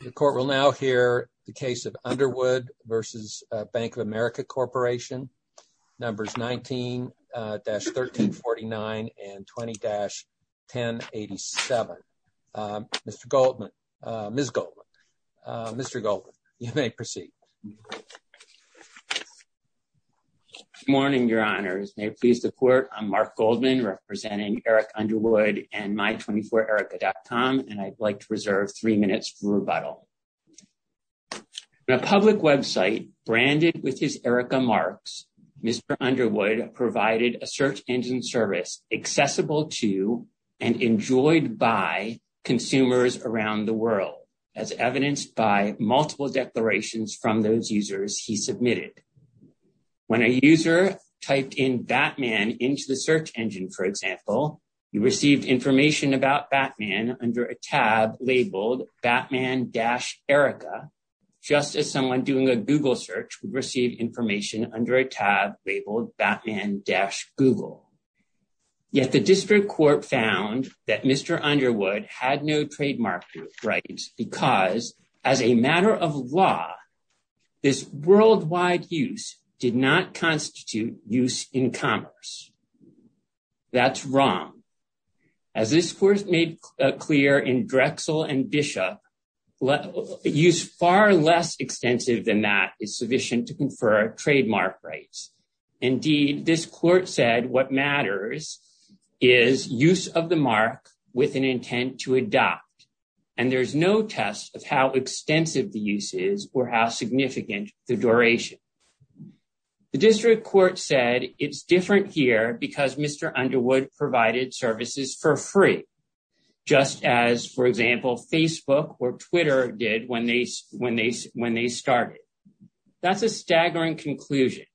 The court will now hear the case of Underwood v. Bank of America Corporation, numbers 19-1349 and 20-1087. Mr. Goldman, Ms. Goldman, Mr. Goldman, you may proceed. Good morning, your honors. May it please the court, I'm Mark Goldman representing Eric Underwood and my24erica.com and I'd like to reserve three minutes for rebuttal. In a public website branded with his Erica marks, Mr. Underwood provided a search engine service accessible to and enjoyed by consumers around the world as evidenced by multiple declarations from those users he submitted. When a user typed in Batman into the search engine, for example, you received information about Batman under a tab labeled Batman-Erica. Just as someone doing a Google search would receive information under a tab labeled Batman-Google. Yet the district court found that Mr. Underwood had no trademark rights because as a matter of law, this worldwide use did not constitute use in commerce. That's wrong. As this court made clear in Drexel and Bishop, use far less extensive than that is sufficient to confer trademark rights. Indeed, this court said what matters is use of the mark with an intent to adopt and there's no test of how extensive the use is or how significant the duration. The district court said it's different here because Mr. Underwood provided services for free just as, for example, Facebook or Twitter did when they started. That's a staggering conclusion.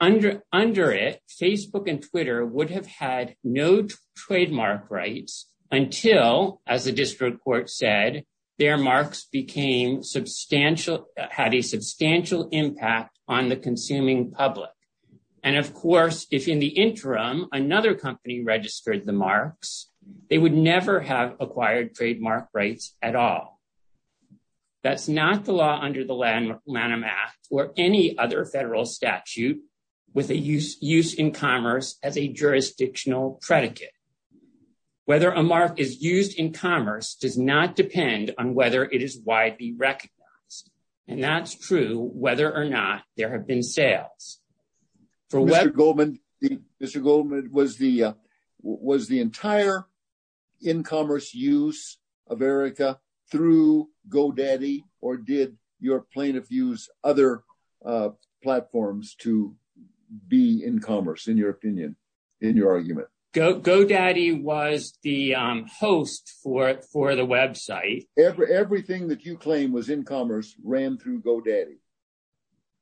Under it, Facebook and Twitter would have had no trademark rights until, as the district court said, their marks became substantial, had a substantial impact on the consuming public. And of course, if in the interim, another company registered the marks, they would never have acquired trademark rights at all. That's not the law under the Lanham Act or any other federal statute with a use in commerce as a jurisdictional predicate. Whether a mark is used in commerce does not depend on whether it is widely recognized. And that's true whether or not there have been sales. Mr. Goldman, was the entire in commerce use of Erika through GoDaddy or did your plaintiff use other platforms to be in commerce, in your opinion, in your argument? GoDaddy was the host for the website. Everything that you claim was in commerce ran through GoDaddy.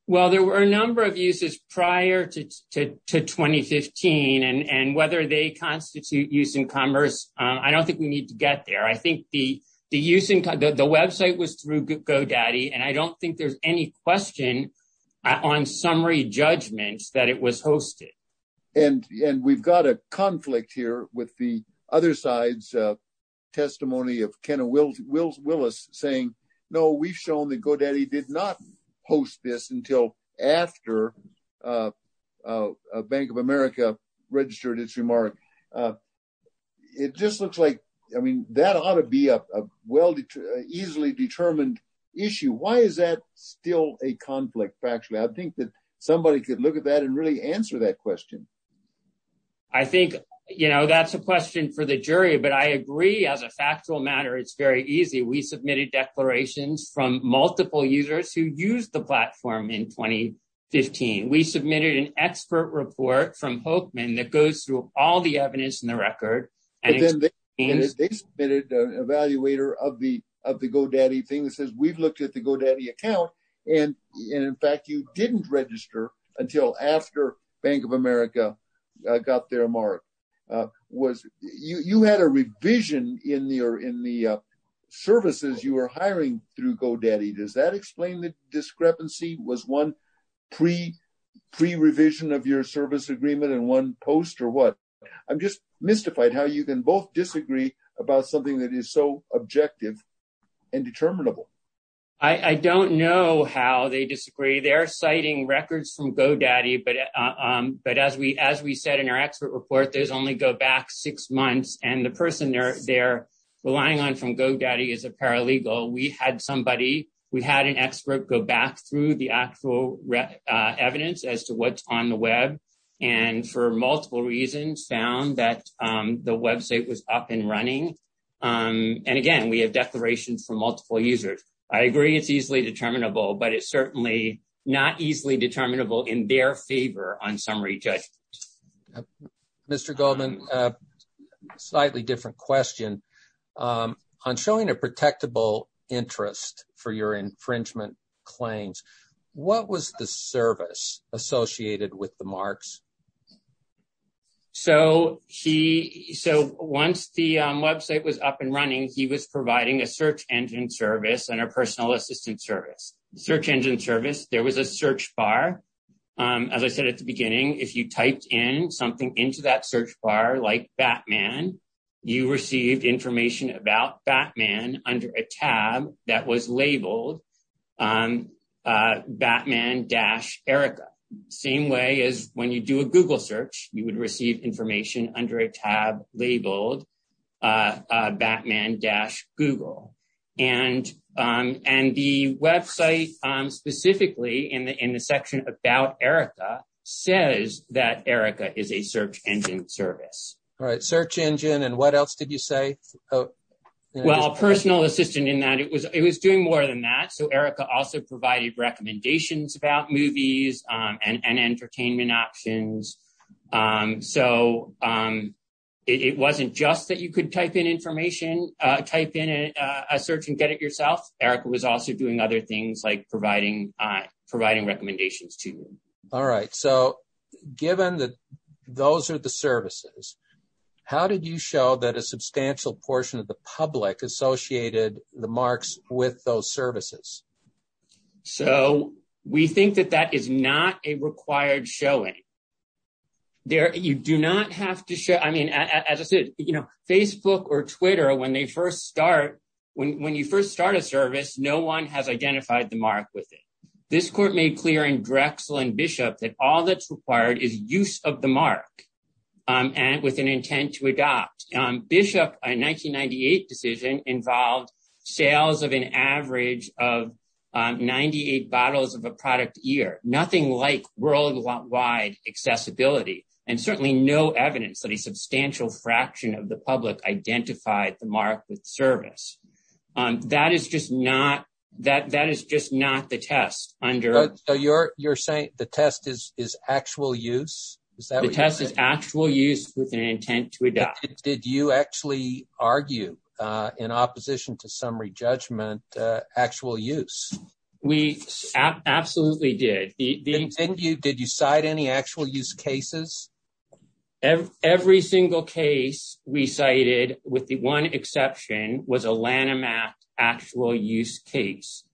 Well, there were a number of uses prior to 2015 and whether they constitute use in commerce, I don't think we need to get there. I think the website was through GoDaddy and I don't think there's any question on summary judgments that it was hosted. And we've got a conflict here with the other side's testimony of Kenna Willis saying, no, we've shown that GoDaddy did not host this until after Bank of America registered its remark. It just looks like, I mean, that ought to be a well, easily determined issue. Why is that still a conflict? Factually, I think that somebody could look at that and really answer that question. I think, you know, that's a question for the jury, but I agree as a factual matter, it's very easy. We submitted declarations from multiple users who used the platform in 2015. We submitted an expert report from Hokeman that goes through all the evidence in the record. And then they submitted an evaluator of the GoDaddy thing that says we've looked at the GoDaddy account. And in fact, you didn't register until after Bank of America got their mark. You had a revision in the services you were hiring through GoDaddy. Does that explain the discrepancy? Was one pre-revision of your service agreement and one post or what? I'm just mystified how you can both disagree about something that is so objective and determinable. I don't know how they disagree. They're citing records from GoDaddy. But as we said in our expert report, those only go back six months. And the person they're relying on from GoDaddy is a paralegal. We had somebody, we had an expert go back through the actual evidence as to what's on the web and for multiple reasons found that the website was up and running. And again, we have declarations from multiple users. I agree it's easily determinable, but it's certainly not easily determinable in their favor on summary judgment. Mr. Goldman, slightly different question. On showing a protectable interest for your infringement claims, what was the service associated with the marks? So once the website was up and running, he was providing a search engine service and a personal assistant service. The search engine service, there was a search bar. As I said at the beginning, if you typed in something into that search bar like Batman, you received information about Batman under a tab that was labeled Batman-Erica. Same way as when you do a Google search, you would receive information under a tab labeled Batman-Google. And the website specifically in the section about Erica says that Erica is a search engine service. All right, search engine. And what else did you say? Well, personal assistant in that it was doing more than that. So Erica also provided recommendations about movies and entertainment options. So it wasn't just that you could type in information, type in a search and get it yourself. Erica was also doing other things like providing recommendations to you. All right. So given that those are the services, how did you show that a substantial portion of the public associated the marks with those services? So we think that that is not a required showing. You do not have to show, I mean, as I said, Facebook or Twitter, when you first start a service, no one has identified the mark with it. This court made clear in Drexel and Bishop that all that's required is use of the mark and with an intent to adopt. Bishop, a 1998 decision involved sales of an average of 98 bottles of a product a year, nothing like worldwide accessibility and certainly no evidence that a substantial fraction of the public identified the mark with service. That is just not the test. So you're saying the test is actual use? The test is actual use with an intent to adopt. Did you actually argue in opposition to summary judgment, actual use? We absolutely did. Did you cite any actual use cases? Every single case we cited with the one exception was a Lanham Act actual use case.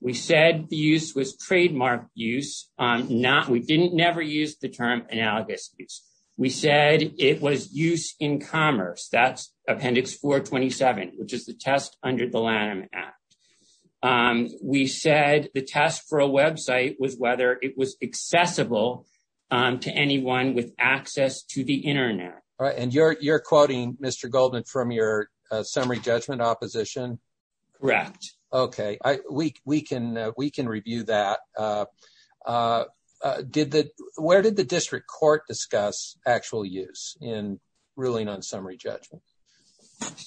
We said the use was trademarked use. We never used the term analogous use. We said it was use in commerce. That's appendix 427, which is the test under the Lanham Act. We said the test for a website was whether it was accessible to anyone with access to the correct. We can review that. Where did the district court discuss actual use in ruling on summary judgment?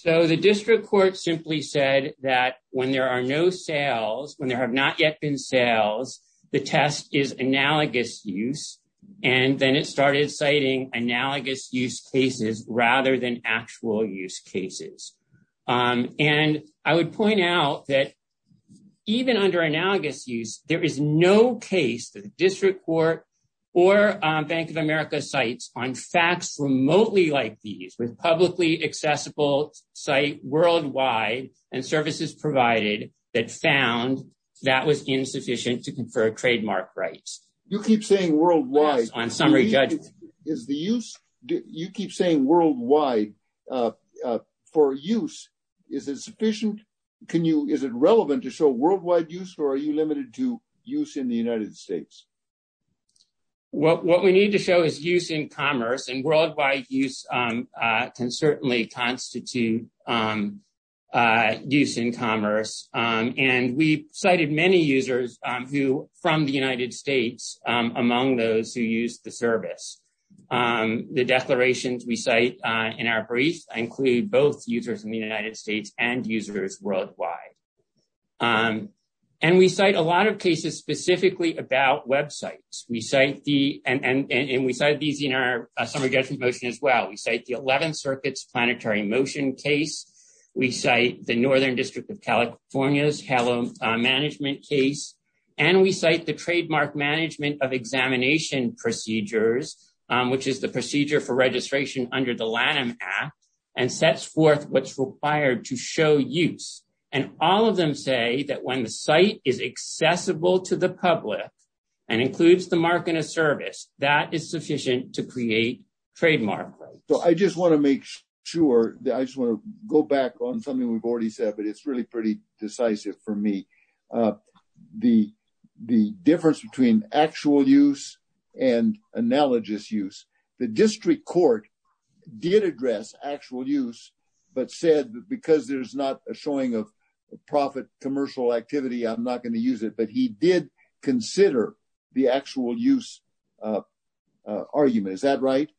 The district court simply said that when there are no sales, when there have not yet been sales, the test is analogous use. Then it started citing analogous use cases rather than actual use cases. I would point out that even under analogous use, there is no case that the district court or Bank of America cites on facts remotely like these with publicly accessible site worldwide and services provided that found that was insufficient to confer worldwide for use. Is it relevant to show worldwide use or are you limited to use in the United States? What we need to show is use in commerce. Worldwide use can certainly constitute use in commerce. We cited many users from the United States among those who use the service. The declarations we cite in our brief include both users in the United States and users worldwide. We cite a lot of cases specifically about websites. We cite these in our summary judgment motion as well. We cite the 11th Circuit's planetary motion case. We cite the Northern District of California's HALO management case. We cite the trademark management of examination procedures, which is the procedure for registration under the Lanham Act and sets forth what is required to show use. All of them say that when the site is accessible to the public and includes the mark in a service, that is sufficient to create trademark rights. I just want to make sure that I just want to go back on something we've already said, but it's really pretty decisive for me. The difference between actual use and analogous use. The district court did address actual use, but said that because there's not a showing of profit commercial activity, I'm not going to use it. But he did consider the actual use argument. Is that right?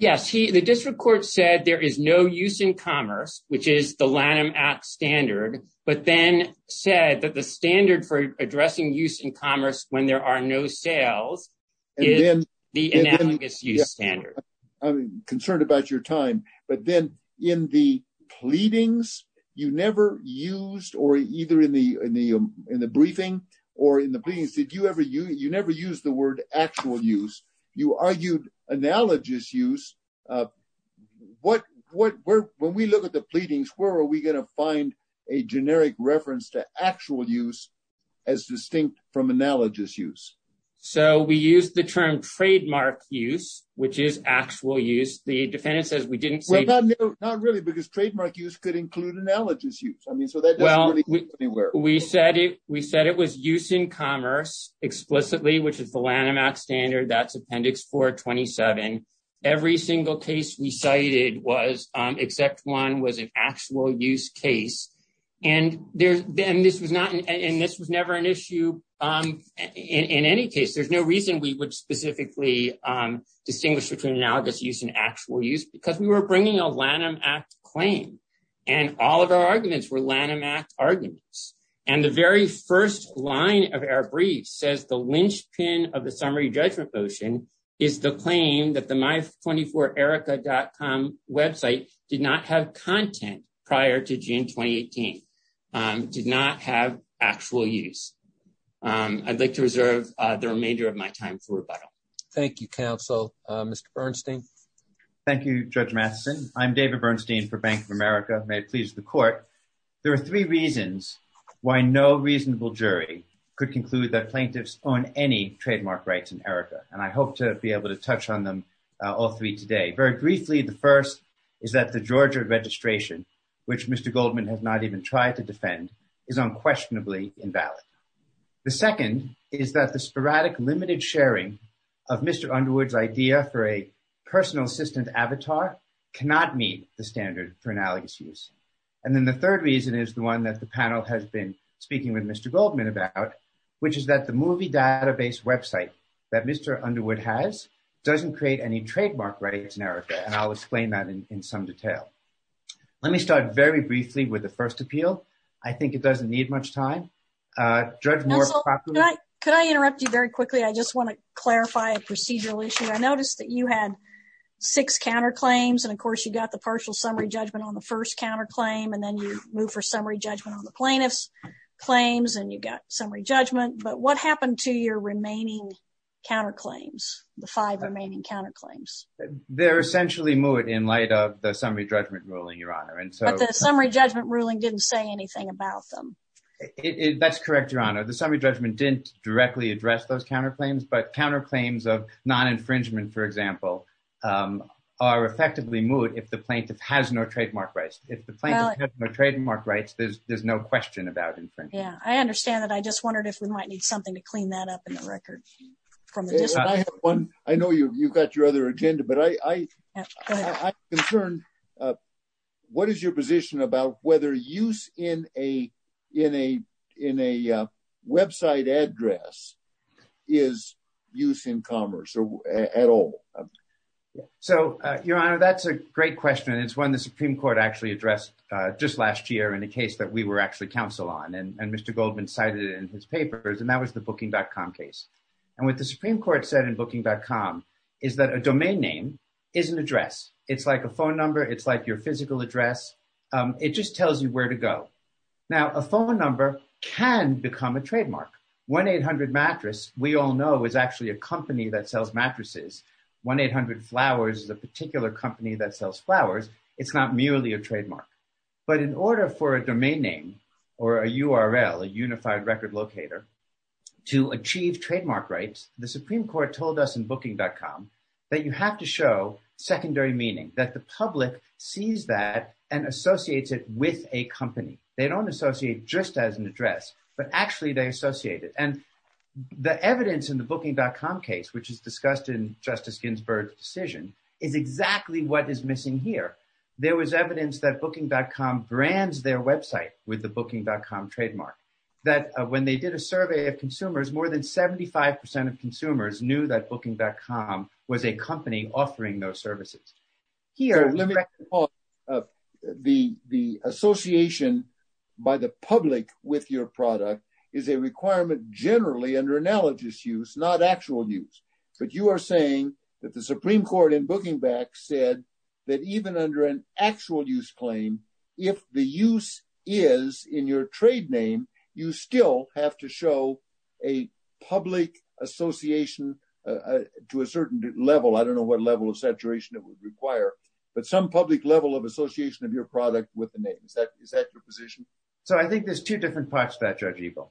Yes. The district court said there is no use in commerce, which is the Lanham Act standard, but then said that the standard for addressing use in commerce when there are no sales is the analogous use standard. I'm concerned about your time, but then in the pleadings, you never used or either in the briefing or in the pleadings, did you ever use the word actual use? You argued analogous use. When we look at the pleadings, where are we going to find a generic reference to actual use as distinct from analogous use? So we use the term trademark use, which is actual use. The defendant says we didn't say that. Not really, because trademark use could include analogous use. I mean, so that doesn't really work. We said it was use in commerce explicitly, which is the Lanham Act standard. That's appendix 427. Every single case we cited was except one was an actual use case. And this was never an issue in any case. There's no reason we would specifically distinguish between analogous use and actual use because we were bringing a Lanham Act claim and all of our arguments were Lanham Act arguments. And the very first line of our brief says the linchpin of the summary judgment motion is the claim that the my24erica.com website did not have content prior to June 2018, did not have actual use. I'd like to reserve the remainder of my time for rebuttal. Thank you, counsel. Mr. Bernstein. Thank you, Judge Matheson. I'm David Bernstein for Bank of America. May it please the court. There are three reasons why no reasonable jury could conclude that plaintiffs own any trademark rights in Erica, and I hope to be able to touch on them all three today. Very briefly, the first is that the Georgia registration, which Mr. Goldman has not even tried to defend, is unquestionably invalid. The second is that the sporadic limited sharing of Mr. Underwood's idea for a personal assistant avatar cannot meet the standard for analogous use. And then the third reason is the one that the panel has been speaking with Mr. Goldman about, which is that the movie database website that Mr. Underwood has doesn't create any trademark rights in Erica, and I'll explain that in some detail. Let me start very briefly with the first appeal. I think it doesn't need much time. Judge Moore. Could I interrupt you very quickly? I just want to clarify a few points. You had six counterclaims, and of course you got the partial summary judgment on the first counterclaim, and then you move for summary judgment on the plaintiff's claims, and you got summary judgment. But what happened to your remaining counterclaims, the five remaining counterclaims? They're essentially moot in light of the summary judgment ruling, Your Honor. But the summary judgment ruling didn't say anything about them. That's correct, Your Honor. The summary judgment didn't directly address those counterclaims, but counterclaims of non-infringement, for example, are effectively moot if the plaintiff has no trademark rights. If the plaintiff has no trademark rights, there's no question about infringement. Yeah, I understand that. I just wondered if we might need something to clean that up in the record. I know you've got your other agenda, but I'm concerned. What is your position about whether use in a website address is use in commerce at all? Your Honor, that's a great question. It's one the Supreme Court actually addressed just last year in a case that we were actually counsel on, and Mr. Goldman cited it in his papers, and that was the Booking.com case. What the Supreme Court said in Booking.com is that a domain name is an address. It's like a phone number. It's like your physical address. It just tells you where to go. Now, a phone number can become a trademark. 1-800-MATTRESS, we all know, is actually a company that sells mattresses. 1-800-FLOWERS is a particular company that sells flowers. It's not merely a trademark. But in order for a domain name or a URL, a Unified Record Locator, to achieve trademark rights, the Supreme Court told us in with a company. They don't associate just as an address, but actually they associate it. The evidence in the Booking.com case, which is discussed in Justice Ginsburg's decision, is exactly what is missing here. There was evidence that Booking.com brands their website with the Booking.com trademark. When they did a survey of consumers, more than 75% of consumers knew that Booking.com was a company offering those services. The association by the public with your product is a requirement generally under analogous use, not actual use. But you are saying that the Supreme Court in Booking.com said that even under an actual use claim, if the use is in your trade name, you still have to show a public association to a certain level. I don't know what level of saturation it would require, but some public level of association of your product with the name. Is that your position? So I think there's two different parts to that, Judge Eagle.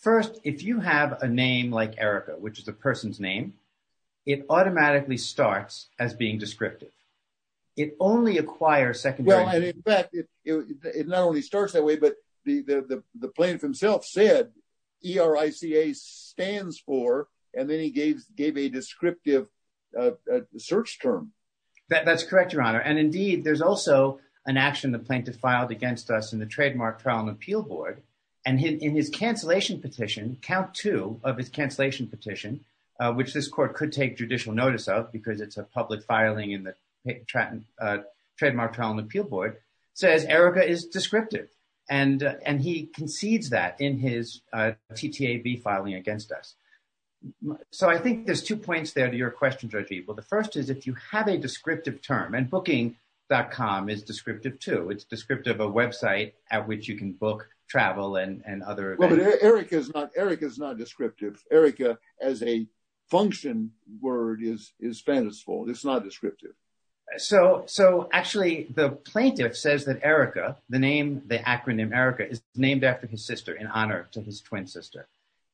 First, if you have a name like Erica, which is a person's name, it automatically starts as being descriptive. It only acquires secondary... And in fact, it not only starts that way, but the plaintiff himself said E-R-I-C-A stands for, and then he gave a descriptive search term. That's correct, Your Honor. And indeed, there's also an action the plaintiff filed against us in the Trademark Trial and Appeal Board. And in his cancellation petition, count two of his cancellation petition, which this court could judicial notice of, because it's a public filing in the Trademark Trial and Appeal Board, says Erica is descriptive. And he concedes that in his TTAB filing against us. So I think there's two points there to your question, Judge Eagle. The first is if you have a descriptive term, and Booking.com is descriptive too. It's descriptive of a website at which you can book travel and other events. Well, but Erica is not descriptive. Erica, as a function word, is fanciful. It's not descriptive. So actually, the plaintiff says that Erica, the name, the acronym Erica is named after his sister in honor to his twin sister.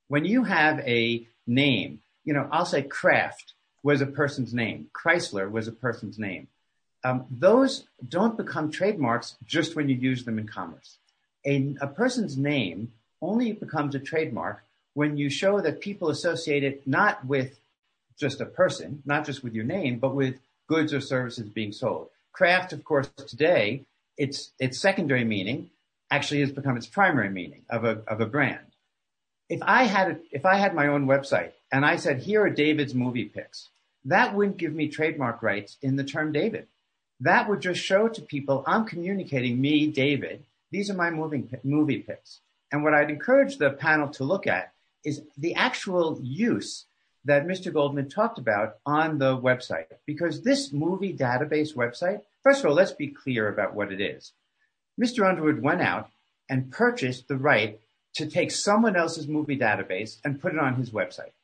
When you have a name, you know, I'll say Kraft was a person's name. Chrysler was a person's name. Those don't become trademarks just when you use them in commerce. A person's name only becomes a trademark when you show that people associate it not with just a person, not just with your name, but with goods or services being sold. Kraft, of course, today, its secondary meaning actually has become its primary meaning of a brand. If I had my own website, and I said, here are David's movie picks, that wouldn't give me trademark rights in the term David. That would just show to people I'm communicating me, David. These are my movie picks. And what I'd encourage the panel to look at is the actual use that Mr. Goldman talked about on the website. Because this movie database website, first of all, let's be clear about what it is. Mr. Underwood went out and purchased the right to take someone else's movie database and put it on his website.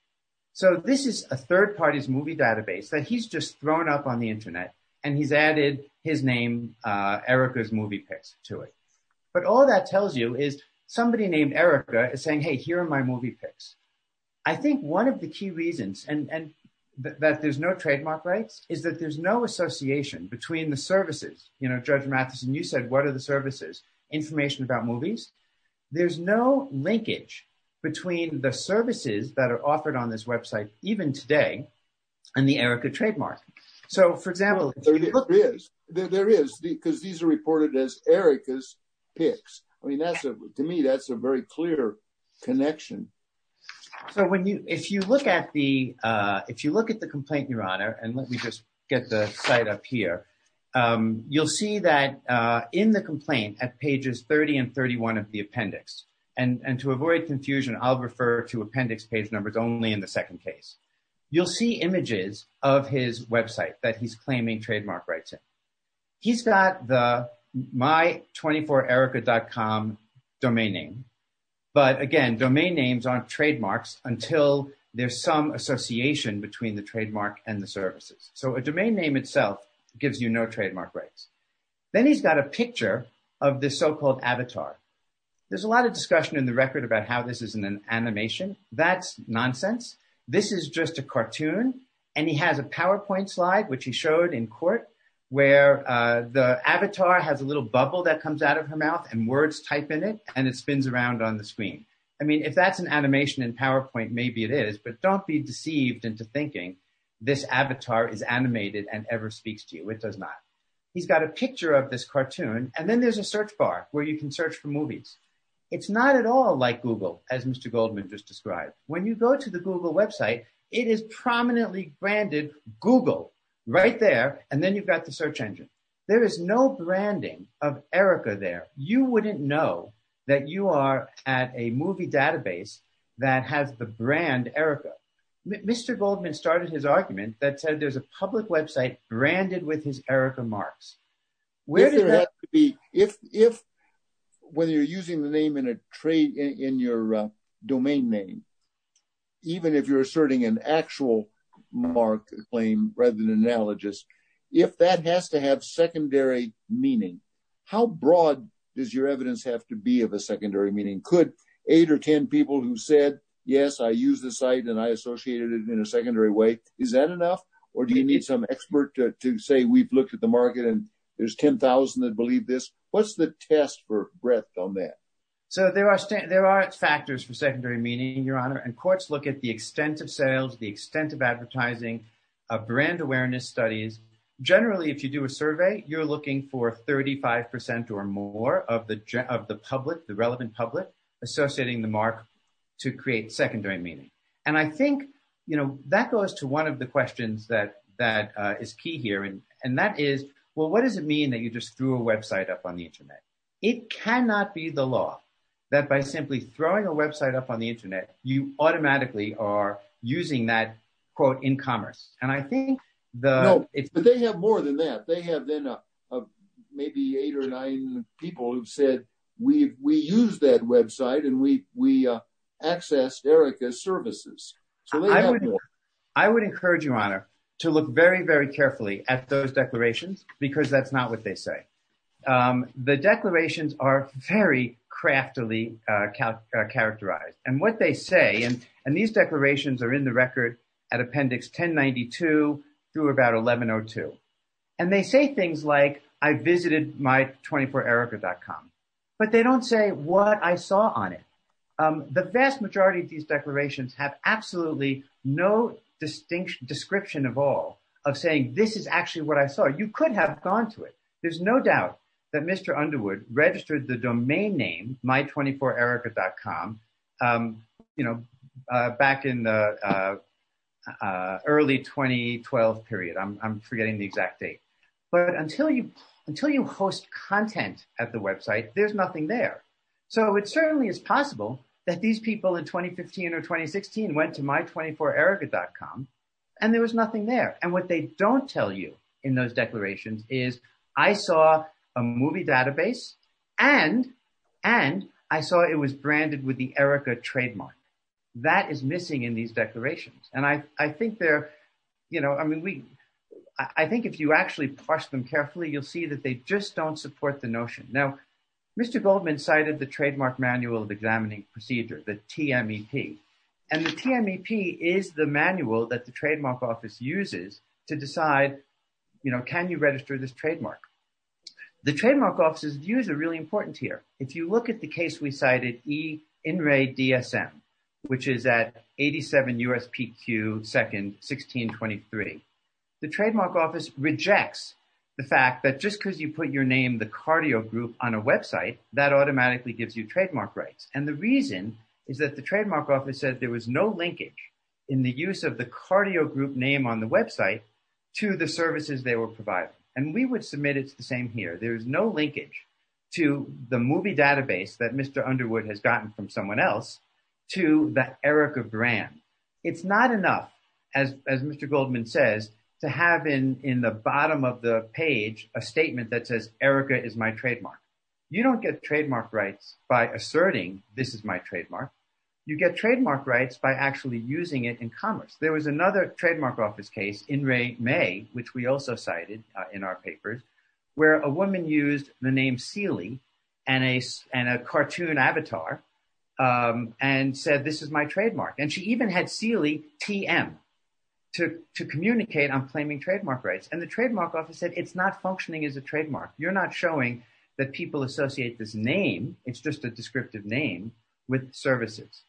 So this is a third party's movie database that he's just thrown up on the internet. And he's added his name, Erica's movie picks to it. But all that tells you is somebody named Erica is saying, hey, here are my movie picks. I think one of the key reasons and that there's no trademark rights is that there's no association between the services, you know, Judge Matheson, you said, what are the services, information about movies, there's no linkage between the services that are offered on this website, even today, and the Erica trademark. So for example, there is there is because these are reported as Erica's pics. I mean, that's a to me, that's a very clear connection. So when you if you look at the, if you look at the complaint, Your Honor, and let me just get the site up here, you'll see that in the complaint at pages 30 and 31 of the appendix, and to avoid confusion, I'll refer to appendix page numbers only in the second case, you'll see images of his website that he's claiming trademark rights. He's got the my 24 Erica.com domain name. But again, domain names aren't trademarks until there's some association between the trademark and the services. So a domain name itself gives you no trademark rights. Then he's got a picture of this so called avatar. There's a lot of discussion in the record about how this isn't an animation. That's nonsense. This is just a cartoon. And he has a PowerPoint slide, which he showed in court, where the avatar has a little bubble that comes out of her mouth and words type in it, and it spins around on the screen. I mean, if that's an animation in PowerPoint, maybe it is, but don't be deceived into thinking this avatar is animated and ever speaks to you. It does not. He's got a picture of this cartoon. And then there's a search bar where you can search for movies. It's not at all like Google, as Mr. Goldman just described. When you go to the Google website, it is prominently branded Google right there. And then you've got the search engine. There is no branding of Erica there. You wouldn't know that you are at a movie database that has the brand Erica. Mr. Goldman started his argument that said a public website branded with his Erica marks. If whether you're using the name in your domain name, even if you're asserting an actual mark claim rather than analogous, if that has to have secondary meaning, how broad does your evidence have to be of a secondary meaning? Could eight or 10 people who said, yes, I use the site and I associated it in a secondary way, is that enough? Or do you need some expert to say we've looked at the market and there's 10,000 that believe this? What's the test for breadth on that? So there are, there are factors for secondary meaning, Your Honor, and courts look at the extent of sales, the extent of advertising, of brand awareness studies. Generally, if you do a survey, you're looking for 35% or more of the, of the public, the relevant public associating the mark to create secondary meaning. And I think, you know, that goes to one of the questions that, that is key here. And, and that is, well, what does it mean that you just threw a website up on the internet? It cannot be the law that by simply throwing a website up on the internet, you automatically are using that quote in commerce. And I think the, but they have more than that. They have been maybe eight or nine people who've we, we use that website and we, we access Erica's services. I would encourage you, Your Honor, to look very, very carefully at those declarations, because that's not what they say. The declarations are very craftily characterized and what they say, and, and these declarations are in the record at appendix 1092 through about 1102. And they say like, I visited my24erica.com, but they don't say what I saw on it. The vast majority of these declarations have absolutely no distinct description of all of saying, this is actually what I saw. You could have gone to it. There's no doubt that Mr. Underwood registered the domain name, my24erica.com, you know, back in the early 2012 period. I'm forgetting the exact date, but until you, until you host content at the website, there's nothing there. So it certainly is possible that these people in 2015 or 2016 went to my24erica.com and there was nothing there. And what they don't tell you in those declarations is I saw a movie database and, and I saw it was branded with the Erica trademark. That is missing in these You'll see that they just don't support the notion. Now, Mr. Goldman cited the trademark manual of examining procedure, the TMEP. And the TMEP is the manual that the trademark office uses to decide, you know, can you register this trademark? The trademark office's views are really important here. If you look at the case, we cited E. Inray DSM, which is at 87 USPQ, 2nd, 1623. The trademark office rejects the fact that just because you put your name, the cardio group on a website that automatically gives you trademark rights. And the reason is that the trademark office said there was no linkage in the use of the cardio group name on the website to the services they were providing. And we would submit it to the same here. There is no linkage to the movie database that Mr. Underwood has gotten from someone else to the Erica brand. It's not enough, as Mr. Goldman says, to have in in the bottom of the page, a statement that says Erica is my trademark. You don't get trademark rights by asserting this is my trademark. You get trademark rights by actually using it in commerce. There was another trademark office case Inray May, which we also cited in our papers, where a woman used the name and a and a cartoon avatar and said, this is my trademark. And she even had Sealy TM to to communicate on claiming trademark rights. And the trademark office said it's not functioning as a trademark. You're not showing that people associate this name. It's just a descriptive name with services.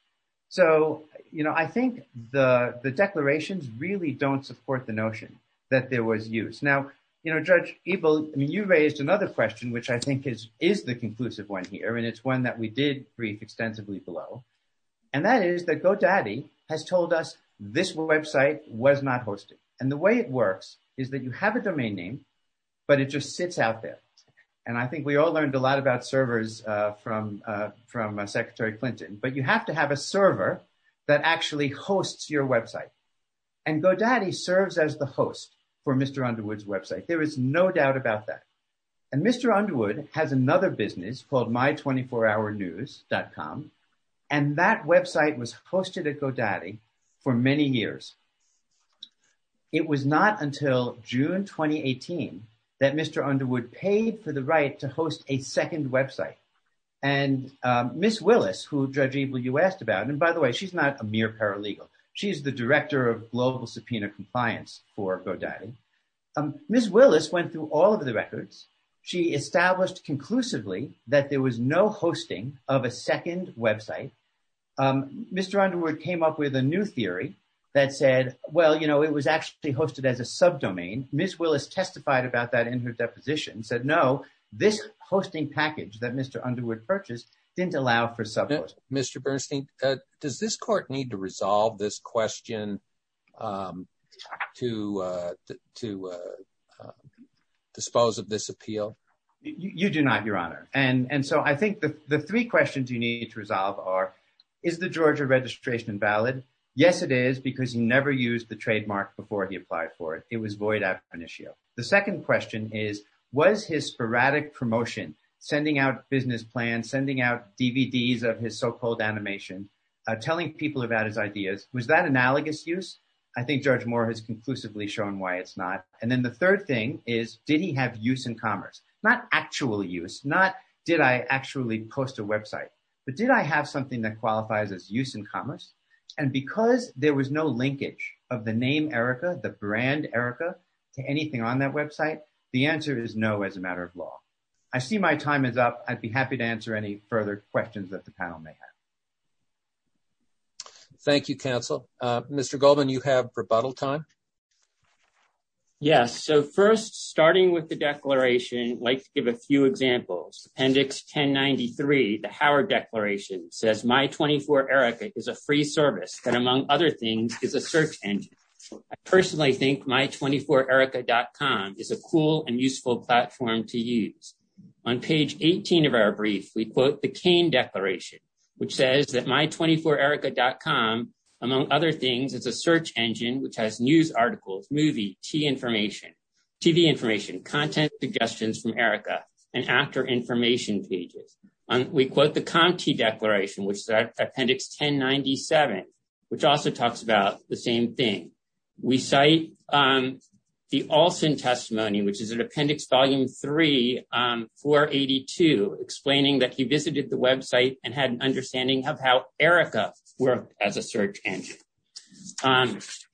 So, you know, I think the the declarations really don't support the notion that there was use. Now, you know, Judge Ebel, I mean, you raised another question, which I think is is the conclusive one here. And it's one that we did brief extensively below. And that is that GoDaddy has told us this website was not hosted. And the way it works is that you have a domain name, but it just sits out there. And I think we all learned a lot about servers from from Secretary Clinton. But you have to have a server that actually hosts your website. And GoDaddy serves as the host for Mr. Underwood's website. There is no doubt about that. And Mr. Underwood has another business called My 24 Hour News dot com. And that website was hosted at GoDaddy for many years. It was not until June 2018 that Mr. Underwood paid for the right to host a second website. And Miss Willis, who, Judge Ebel, you asked about. And by the way, she's not a mere paralegal. She's the director of global subpoena compliance for GoDaddy. Miss Willis went through all of the records. She established conclusively that there was no hosting of a second website. Mr. Underwood came up with a new theory that said, well, you know, it was actually hosted as a subdomain. Miss Willis testified about that in her deposition and said, no, this hosting package that Mr. Underwood purchased didn't allow for subhosting. Mr. Bernstein, does this court need to resolve this question to dispose of this appeal? You do not, Your Honor. And so I think the three questions you need to resolve are, is the Georgia registration valid? Yes, it is, because he never used the trademark before he applied for it. It was void after an issue. The second question is, was his sporadic promotion, sending out business plans, sending out DVDs of his so-called animation, telling people about his ideas, was that analogous use? I think Judge Moore has conclusively shown why it's not. And then the third thing is, did he have use in commerce? Not actual use, not did I actually post a website, but did I have something that qualifies as use in commerce? And because there was no linkage of the name Erica, the brand Erica, to anything on that website, the answer is no, as a matter of law. I see my time is up. I'd be happy to answer any further questions that the panel may have. Thank you, counsel. Mr. Goldman, you have rebuttal time. Yes. So first, starting with the declaration, I'd like to give a few examples. Appendix 1093, the Howard Declaration, says My24erica is a free service that, among other things, is a search engine. I personally think My24erica.com is a cool and useful platform to use. On page 18 of our brief, we quote the Kane Declaration, which says that My24erica.com, among other things, is a search engine which has news articles, movie, tea information, TV information, content suggestions from Erica, and actor information pages. We quote the Comte Declaration, which is Appendix 1097, which also talks about the same thing. We cite the Alston Testimony, which is in Appendix Volume 3, 482, explaining that he visited the website and had an understanding of how Erica worked as a search engine.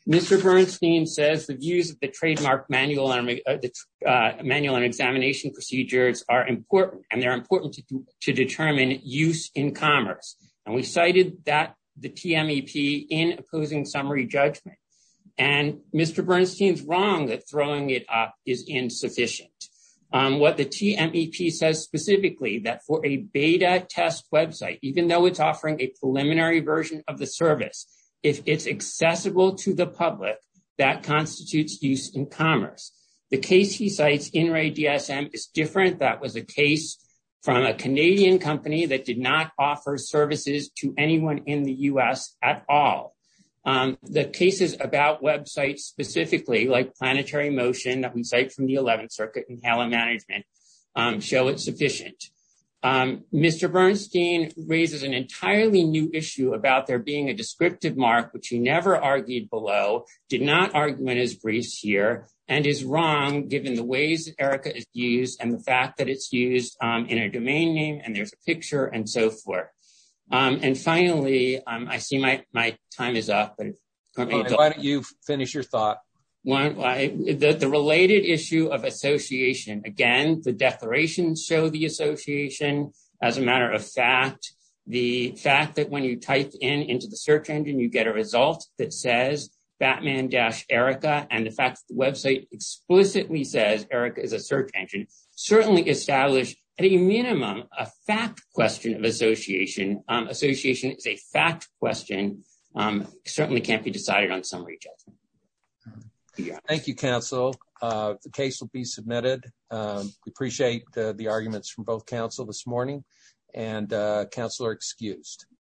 Mr. Bernstein says the views of the And we cited the TMEP in opposing summary judgment. And Mr. Bernstein's wrong that throwing it up is insufficient. What the TMEP says specifically, that for a beta test website, even though it's offering a preliminary version of the service, if it's accessible to the public, that constitutes use in commerce. The case he cites, InReDSM, is different. That was a case from a Canadian company that did not offer services to anyone in the U.S. at all. The cases about websites specifically, like Planetary Motion, that we cite from the 11th Circuit, and HALA Management, show it's sufficient. Mr. Bernstein raises an entirely new issue about there being a descriptive mark, which he never argued below, did not argument his briefs here, and is wrong given the ways Erica is used, and the fact that it's used in a domain name, and there's a picture, and so forth. And finally, I see my time is up. Why don't you finish your thought? The related issue of association. Again, the declarations show the association as a matter of fact. The fact that when you type into the search engine, you get a result that says Batman-Erica, and the fact that the website explicitly says Erica is a search engine, certainly establishes, at a minimum, a fact question of association. Association is a fact question, certainly can't be decided on summary judgment. Thank you, counsel. The case will be submitted. We appreciate the arguments from both counsel this morning, and counsel are excused.